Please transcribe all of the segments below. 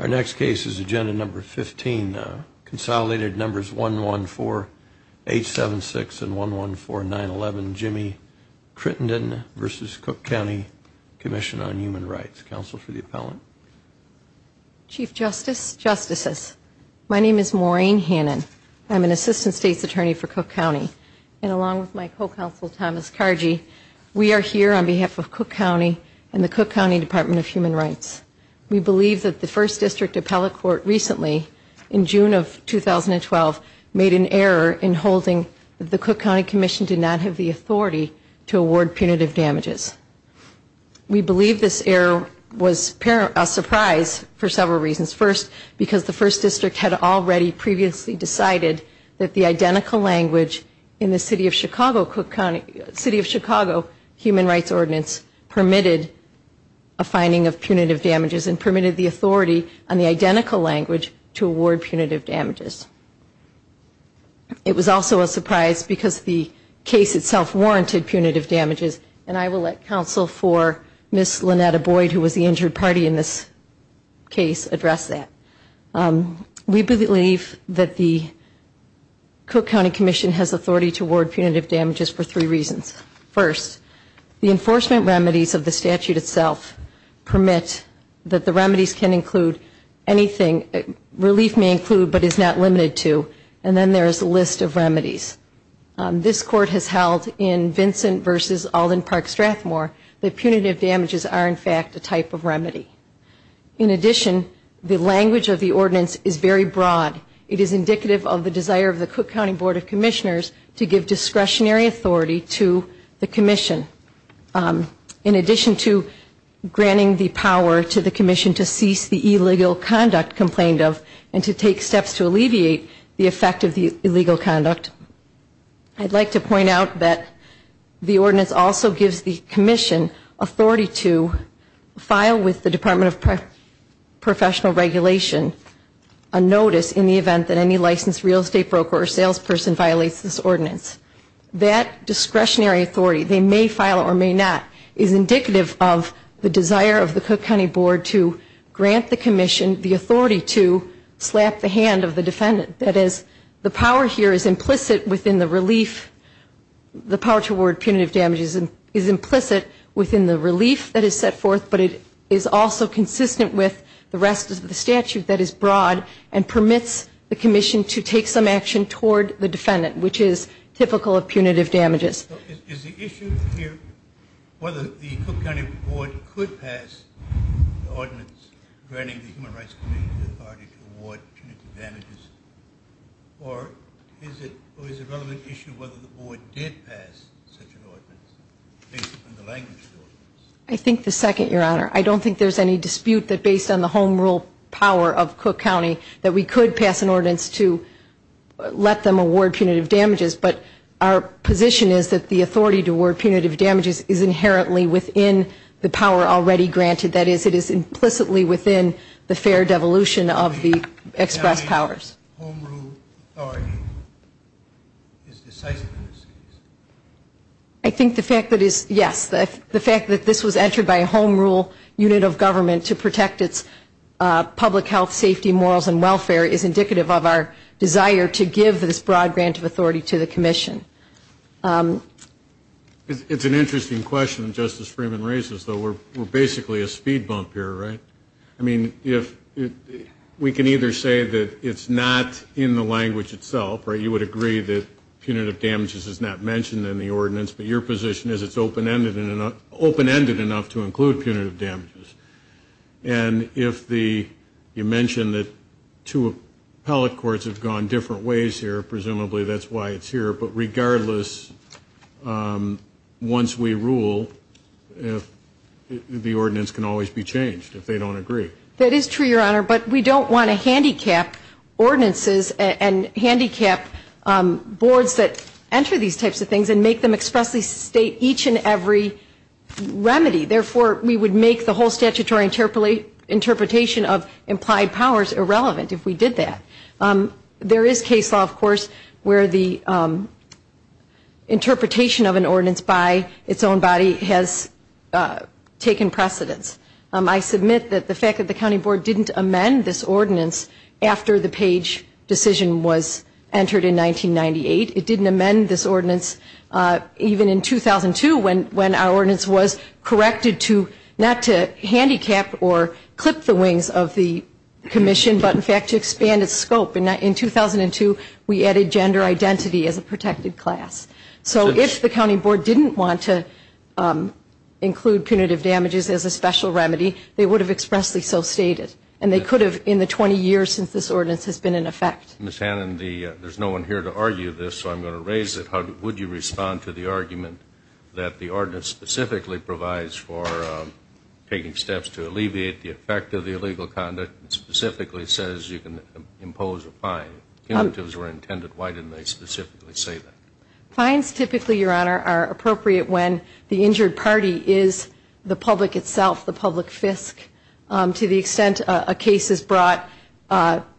Our next case is Agenda Number 15, Consolidated Numbers 114876 and 114911 Jimmy Crittenden v. Cook County Commission on Human Rights. Counsel for the appellant. Chief Justice, Justices, my name is Maureen Hannon. I'm an Assistant State's Attorney for Cook County. And along with my co-counsel, Thomas Cargi, we are here on behalf of Cook County and the Cook County Department of Human Rights. We believe that the First District Appellate Court recently, in June of 2012, made an error in holding that the Cook County Commission did not have the authority to award punitive damages. We believe this error was a surprise for several reasons. First, because the First District had already previously decided that the identical language in the City of Chicago Human Rights Ordinance permitted a finding of punitive damages and permitted the authority on the identical language to award punitive damages. It was also a surprise because the case itself warranted punitive damages, and I will let Counsel for Ms. Lynetta Boyd, who was the injured party in this case, address that. We believe that the Cook County Commission has authority to award punitive damages for three reasons. First, the enforcement remedies of the statute itself permit that the remedies can include anything, relief may include but is not limited to, and then there is a list of remedies. This Court has held in Vincent v. Alden Park Strathmore that punitive damages are in fact a type of remedy. In addition, the language of the ordinance is very broad. It is indicative of the desire of the Cook County Board of Commissioners to give discretionary authority to the Commission. In addition to granting the power to the Commission to cease the illegal conduct complained of and to take steps to alleviate the effect of the illegal conduct, I'd like to point out that the ordinance also gives the Commission authority to file with the Department of Professional Regulation a notice in the event that any licensed real estate broker or salesperson violates this ordinance. That discretionary authority, they may file it or may not, is indicative of the desire of the Cook County Board to grant the Commission the authority to slap the hand of the defendant. That is, the power here is implicit within the relief, the power to award punitive damages is implicit within the relief that is set forth, but it is also consistent with the rest of the statute that is broad and permits the Commission to take some action toward the defendant, which is typical of punitive damages. Is the issue here whether the Cook County Board could pass the ordinance granting the Human Rights Commission the authority to award punitive damages? Or is it a relevant issue whether the Board did pass such an ordinance based on the language of the ordinance? I think the second, Your Honor. I don't think there's any dispute that based on the home rule power of Cook County that we could pass an ordinance to let them award punitive damages. But our position is that the authority to award punitive damages is inherently within the power already granted, that is, it is implicitly within the fair devolution of the express powers. I think the fact that, yes, the fact that this was entered by a home rule unit of government to protect its public health, safety, morals, and welfare is indicative of our desire to give this broad grant of authority to the Commission. It's an interesting question that Justice Freeman raises, though. We're basically a speed bump here, right? I mean, if we can either say that it's not in the language itself, right, you would agree that punitive damages is not mentioned in the ordinance, but your position is it's open-ended enough to include punitive damages. And if the, you mentioned that two appellate courts have gone different ways here, presumably that's why it's here, but regardless, once we rule, the ordinance can always be changed. That is true, Your Honor, but we don't want to handicap ordinances and handicap boards that enter these types of things and make them expressly state each and every remedy. Therefore, we would make the whole statutory interpretation of implied powers irrelevant if we did that. There is case law, of course, where the interpretation of an ordinance by its own body has taken precedence. I submit that the fact that the County Board didn't amend this ordinance after the Page decision was entered in 1998, it didn't amend this ordinance even in 2002 when our ordinance was corrected to not to handicap or clip the wings of the Commission, but in fact to expand its scope. In 2002, we added gender identity as a protected class. So if the County Board didn't want to include punitive damages as a special remedy, they would have expressly so stated, and they could have in the 20 years since this ordinance has been in effect. Ms. Hannon, there's no one here to argue this, so I'm going to raise it. Would you respond to the argument that the ordinance specifically provides for taking steps to alleviate the effect of the illegal conduct and specifically says you can impose a fine? If punitives were intended, why didn't they specifically say that? Fines typically, Your Honor, are appropriate when the injured party is the public itself, the public fisc, to the extent a case is brought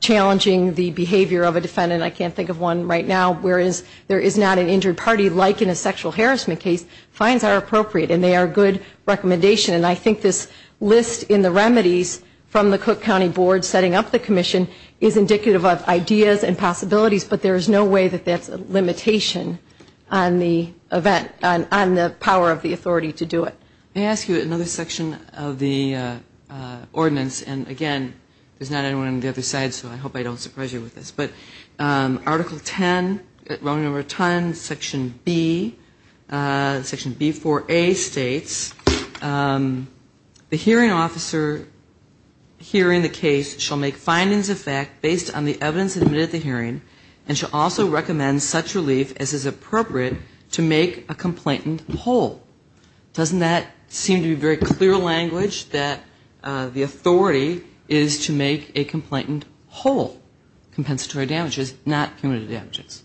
challenging the behavior of a defendant. I can't think of one right now, whereas there is not an injured party like in a sexual harassment case. Fines are appropriate, and they are a good recommendation. And I think this list in the remedies from the Cook County Board setting up the Commission is indicative of ideas and possibilities, but there is no way that that's a limitation on the event, on the power of the authority to do it. May I ask you another section of the ordinance? And again, there's not anyone on the other side, so I hope I don't surprise you with this. But Article 10, section B, section B4A states, the hearing officer hearing the case shall make findings of fact based on the evidence admitted at the hearing, and shall also recommend such relief as is appropriate to make a complainant whole. Doesn't that seem to be very clear language, that the authority is to make a complainant whole, compensatory? Not cumulative damages?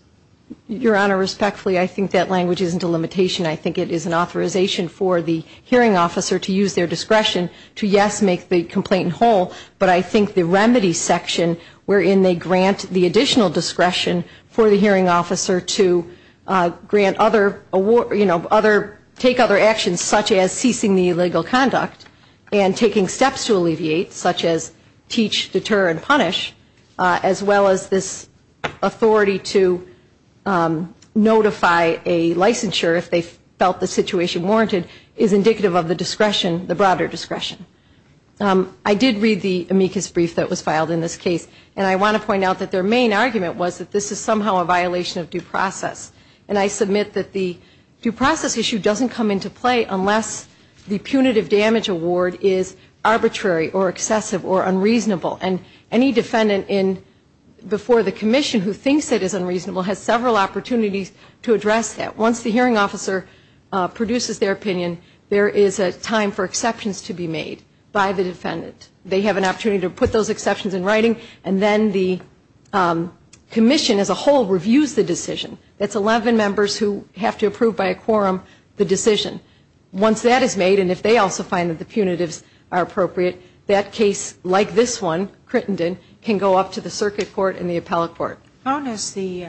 Your Honor, respectfully, I think that language isn't a limitation. I think it is an authorization for the hearing officer to use their discretion to, yes, make the complainant whole, but I think the remedy section, wherein they grant the additional discretion for the hearing officer to grant other, you know, other, take other actions, such as ceasing the illegal conduct, and taking steps to alleviate, such as teach, deter, and punish, as well as this, you know, additional discretion. And I think that this authority to notify a licensure, if they felt the situation warranted, is indicative of the discretion, the broader discretion. I did read the amicus brief that was filed in this case, and I want to point out that their main argument was that this is somehow a violation of due process. And I submit that the due process issue doesn't come into play unless the punitive damage award is arbitrary or excessive or unreasonable. And any defendant before the commission who thinks it is unreasonable has several opportunities to address that. Once the hearing officer produces their opinion, there is a time for exceptions to be made by the defendant. They have an opportunity to put those exceptions in writing, and then the commission as a whole reviews the decision. That's 11 members who have to approve by a quorum the decision. Once that is made, and if they also find that the punitives are appropriate, that case, like this one, Crittenden, can go up to the circuit court and the appellate court. How does the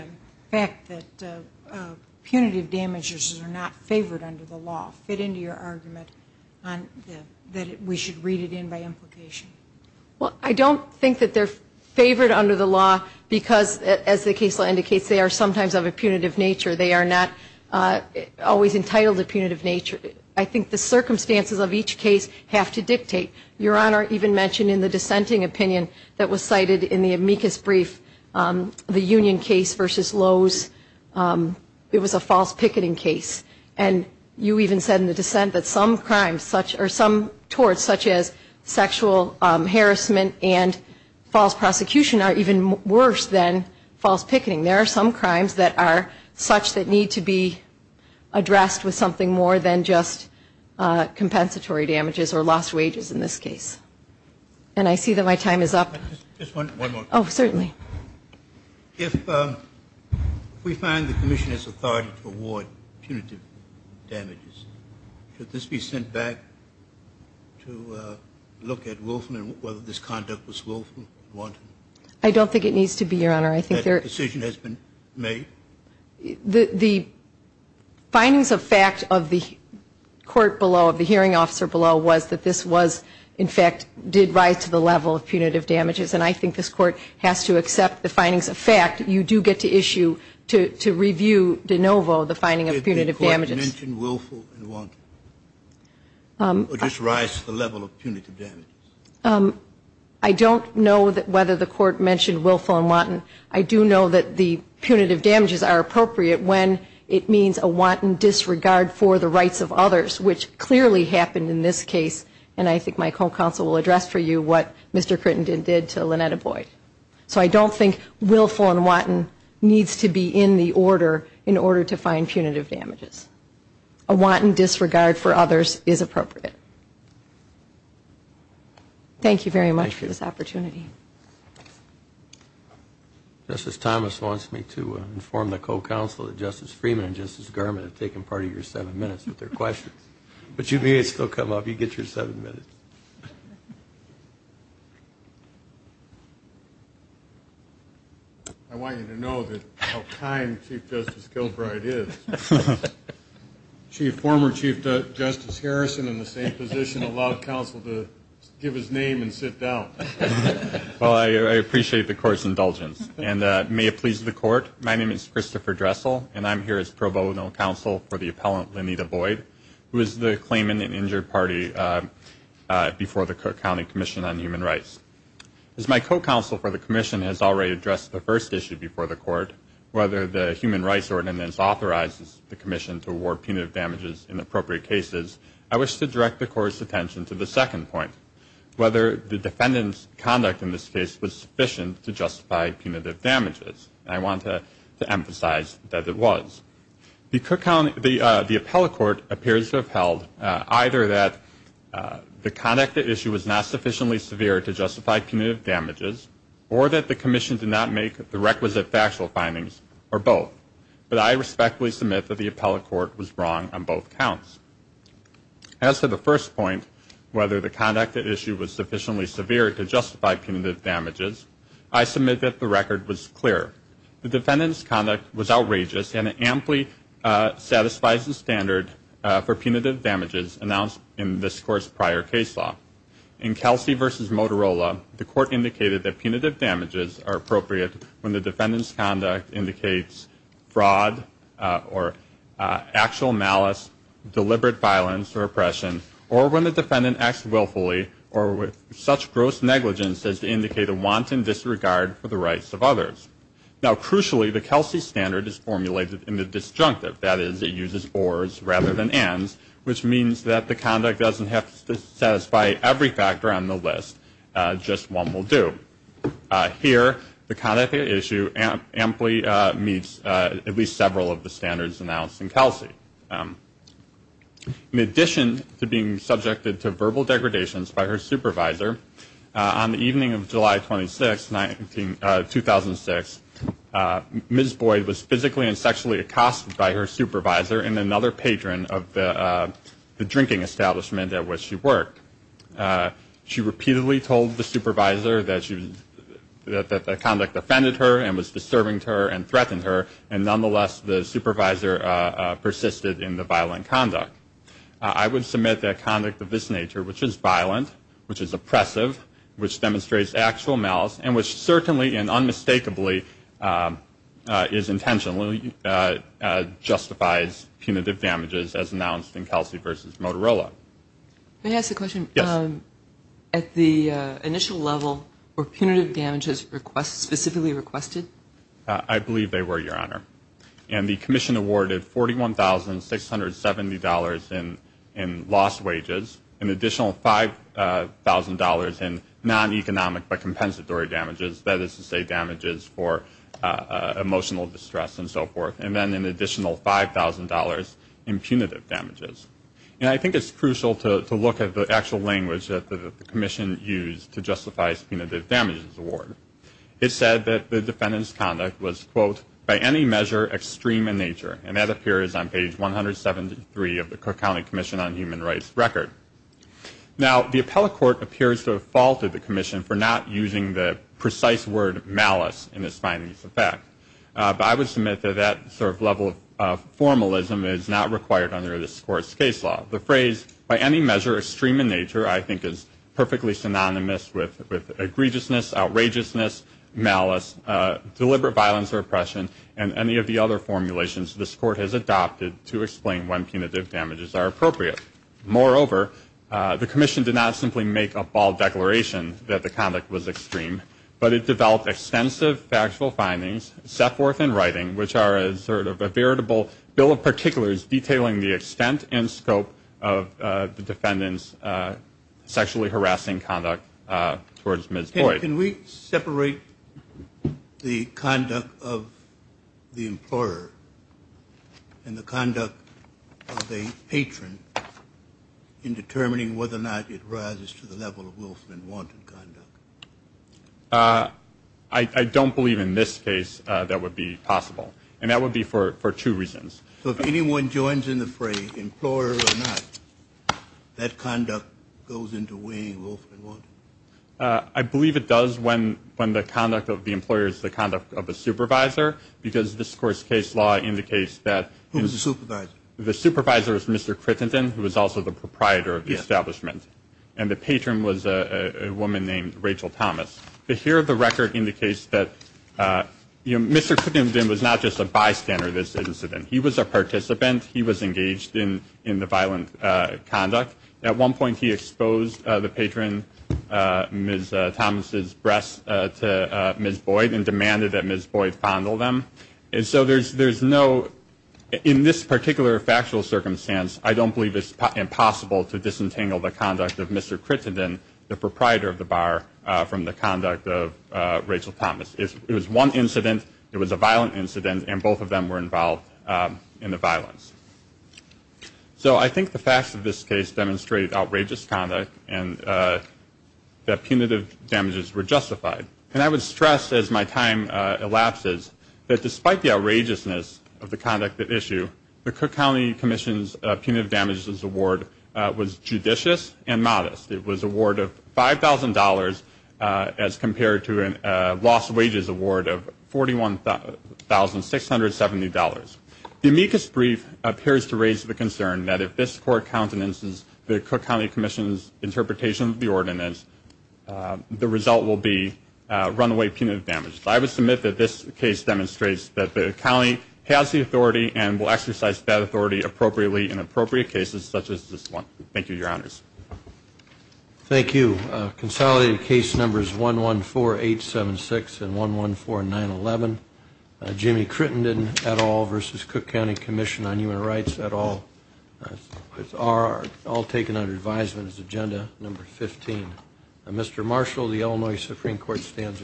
fact that punitive damages are not favored under the law fit into your argument that we should read it in by implication? Well, I don't think that they're favored under the law because, as the case law indicates, they are sometimes of a punitive nature. They are not always entitled to punitive nature. I think the circumstances of each case have to dictate. Your Honor even mentioned in the dissenting opinion that was cited in the amicus brief, the Union case versus Lowe's, it was a false picketing case. And you even said in the dissent that some crimes, or some torts, such as sexual harassment and false prosecution are even worse than false picketing. There are some crimes that are such that need to be addressed with something more than just compensatory damages or lost wages in this case. And I see that my time is up. Just one more. Oh, certainly. If we find the commission has authority to award punitive damages, should this be sent back to look at Wolfman, whether this conduct was Wolfman-wanted? I don't think it needs to be, Your Honor. That decision has been made? The findings of fact of the court below, of the hearing officer below, was that this was, in fact, did rise to the level of punitive damages. And I think this Court has to accept the findings of fact. You do get to issue, to review de novo, the finding of punitive damages. Did the Court mention Wolfman-wanted? Or just rise to the level of punitive damages? I don't know whether the Court mentioned Wolfman-wanted. I do know that the punitive damages are appropriate when it means a wanton disregard for the rights of others, which clearly happened in this case. And I think my co-counsel will address for you what Mr. Crittenden did to Lynetta Boyd. So I don't think Wolfman-wanted needs to be in the order in order to find punitive damages. A wanton disregard for others is appropriate. Thank you very much for this opportunity. Justice Thomas wants me to inform the co-counsel that Justice Freeman and Justice Garment have taken part of your seven minutes with their questions. But you may still come up. You get your seven minutes. I want you to know how kind Chief Justice Gilbride is. Chief, former Chief Justice Harrison in the same position allowed counsel to give his name and sit down. Well, I appreciate the Court's indulgence. And may it please the Court, my name is Christopher Dressel, and I'm here as pro bono counsel for the appellant Lynetta Boyd, who is the claimant in Injured Party before the Cook County Commission on Human Rights. As my co-counsel for the Commission has already addressed the first issue before the Court, whether the Human Rights Ordinance authorizes the Commission to award punitive damages in appropriate cases, I wish to direct the Court's attention to the second point, whether the defendant's conduct in this case was sufficient to justify punitive damages. And I want to emphasize that it was. The Cook County, the appellate court appears to have held either that the conduct at issue was not sufficiently severe to justify punitive damages, or that the Commission did not make the requisite factual findings, or both. But I respectfully submit that the appellate court was wrong on both counts. As to the first point, whether the conduct at issue was sufficiently severe to justify punitive damages, I submit that the record was clear. The defendant's conduct was outrageous, and it amply satisfies the standard for punitive damages announced in this Court's prior case law. In Kelsey v. Motorola, the Court indicated that punitive damages are appropriate when the defendant's conduct indicates fraud or actual malice, deliberate violence or oppression, or when the defendant acts willfully or with such gross negligence as to indicate a wanton disregard for the rights of others. Now, crucially, the Kelsey standard is formulated in the disjunctive. That is, it uses ors rather than ands, which means that the conduct doesn't have to satisfy every factor on the list, just one will do. Here, the conduct at issue amply meets at least several of the standards announced in Kelsey. In addition to being subjected to verbal degradations by her supervisor, on the evening of July 26, 2006, Ms. Boyd was physically and sexually accosted by her supervisor and another patron of the drinking establishment at which she worked. She repeatedly told the supervisor that the conduct offended her and was disturbing to her and threatened her, and nonetheless the supervisor persisted in the violent conduct. I would submit that conduct of this nature, which is violent, which is oppressive, which demonstrates actual malice, and which certainly and unmistakably is intentionally, justifies punitive damages as announced in Kelsey v. Motorola. Can I ask a question? Yes. At the initial level, were punitive damages specifically requested? I believe they were, Your Honor. And the commission awarded $41,670 in lost wages, an additional $5,000 in non-economic but compensatory damages, that is to say damages for emotional distress and so forth, and then an additional $5,000 in punitive damages. And I think it's crucial to look at the actual language that the commission used to justify its punitive damages award. It said that the defendant's conduct was, quote, by any measure extreme in nature, and that appears on page 173 of the Cook County Commission on Human Rights record. Now, the appellate court appears to have faulted the commission for not using the precise word malice in its findings of fact. But I would submit that that sort of level of formalism is not required under this Court's case law. The phrase, by any measure extreme in nature, I think is perfectly synonymous with egregiousness, outrageousness, malice, deliberate violence or oppression, and any of the other formulations this Court has adopted to explain when punitive damages are appropriate. Moreover, the commission did not simply make a bald declaration that the conduct was extreme, but it developed extensive factual findings, set forth in writing, which are sort of a veritable bill of particulars detailing the extent and scope of the defendant's sexually harassing conduct towards Ms. Boyd. Can we separate the conduct of the employer and the conduct of the patron in determining whether or not it rises to the level of wolfman-wanted conduct? I don't believe in this case that would be possible, and that would be for two reasons. So if anyone joins in the phrase employer or not, that conduct goes into weighing wolfman-wanted? I believe it does when the conduct of the employer is the conduct of the supervisor, because this Court's case law indicates that... Mr. Cootington, who was also the proprietor of the establishment, and the patron was a woman named Rachel Thomas. The here of the record indicates that Mr. Cootington was not just a bystander of this incident. He was a participant. He was engaged in the violent conduct. At one point he exposed the patron, Ms. Thomas' breasts, to Ms. Boyd and demanded that Ms. Boyd fondle them. And so there's no... I believe it's impossible to disentangle the conduct of Mr. Cootington, the proprietor of the bar, from the conduct of Rachel Thomas. It was one incident. It was a violent incident. And both of them were involved in the violence. So I think the facts of this case demonstrate outrageous conduct and that punitive damages were justified. And I would stress, as my time elapses, that despite the outrageousness of the conduct at issue, the Cook County Commission's Punitive Damages Award was judicious and modest. It was an award of $5,000 as compared to a lost wages award of $41,670. The amicus brief appears to raise the concern that if this court counts an instance the Cook County Commission's interpretation of the ordinance, the result will be runaway punitive damage. I would submit that this case demonstrates that the county has the authority and will exercise that authority appropriately in appropriate cases such as this one. Thank you, Your Honors. Thank you. Consolidated case numbers 114876 and 114911. Jimmy Crittenden et al. versus Cook County Commission on Human Rights et al. are all taken under advisement as agenda number 15. Mr. Marshall, the Illinois Supreme Court stands adjourned.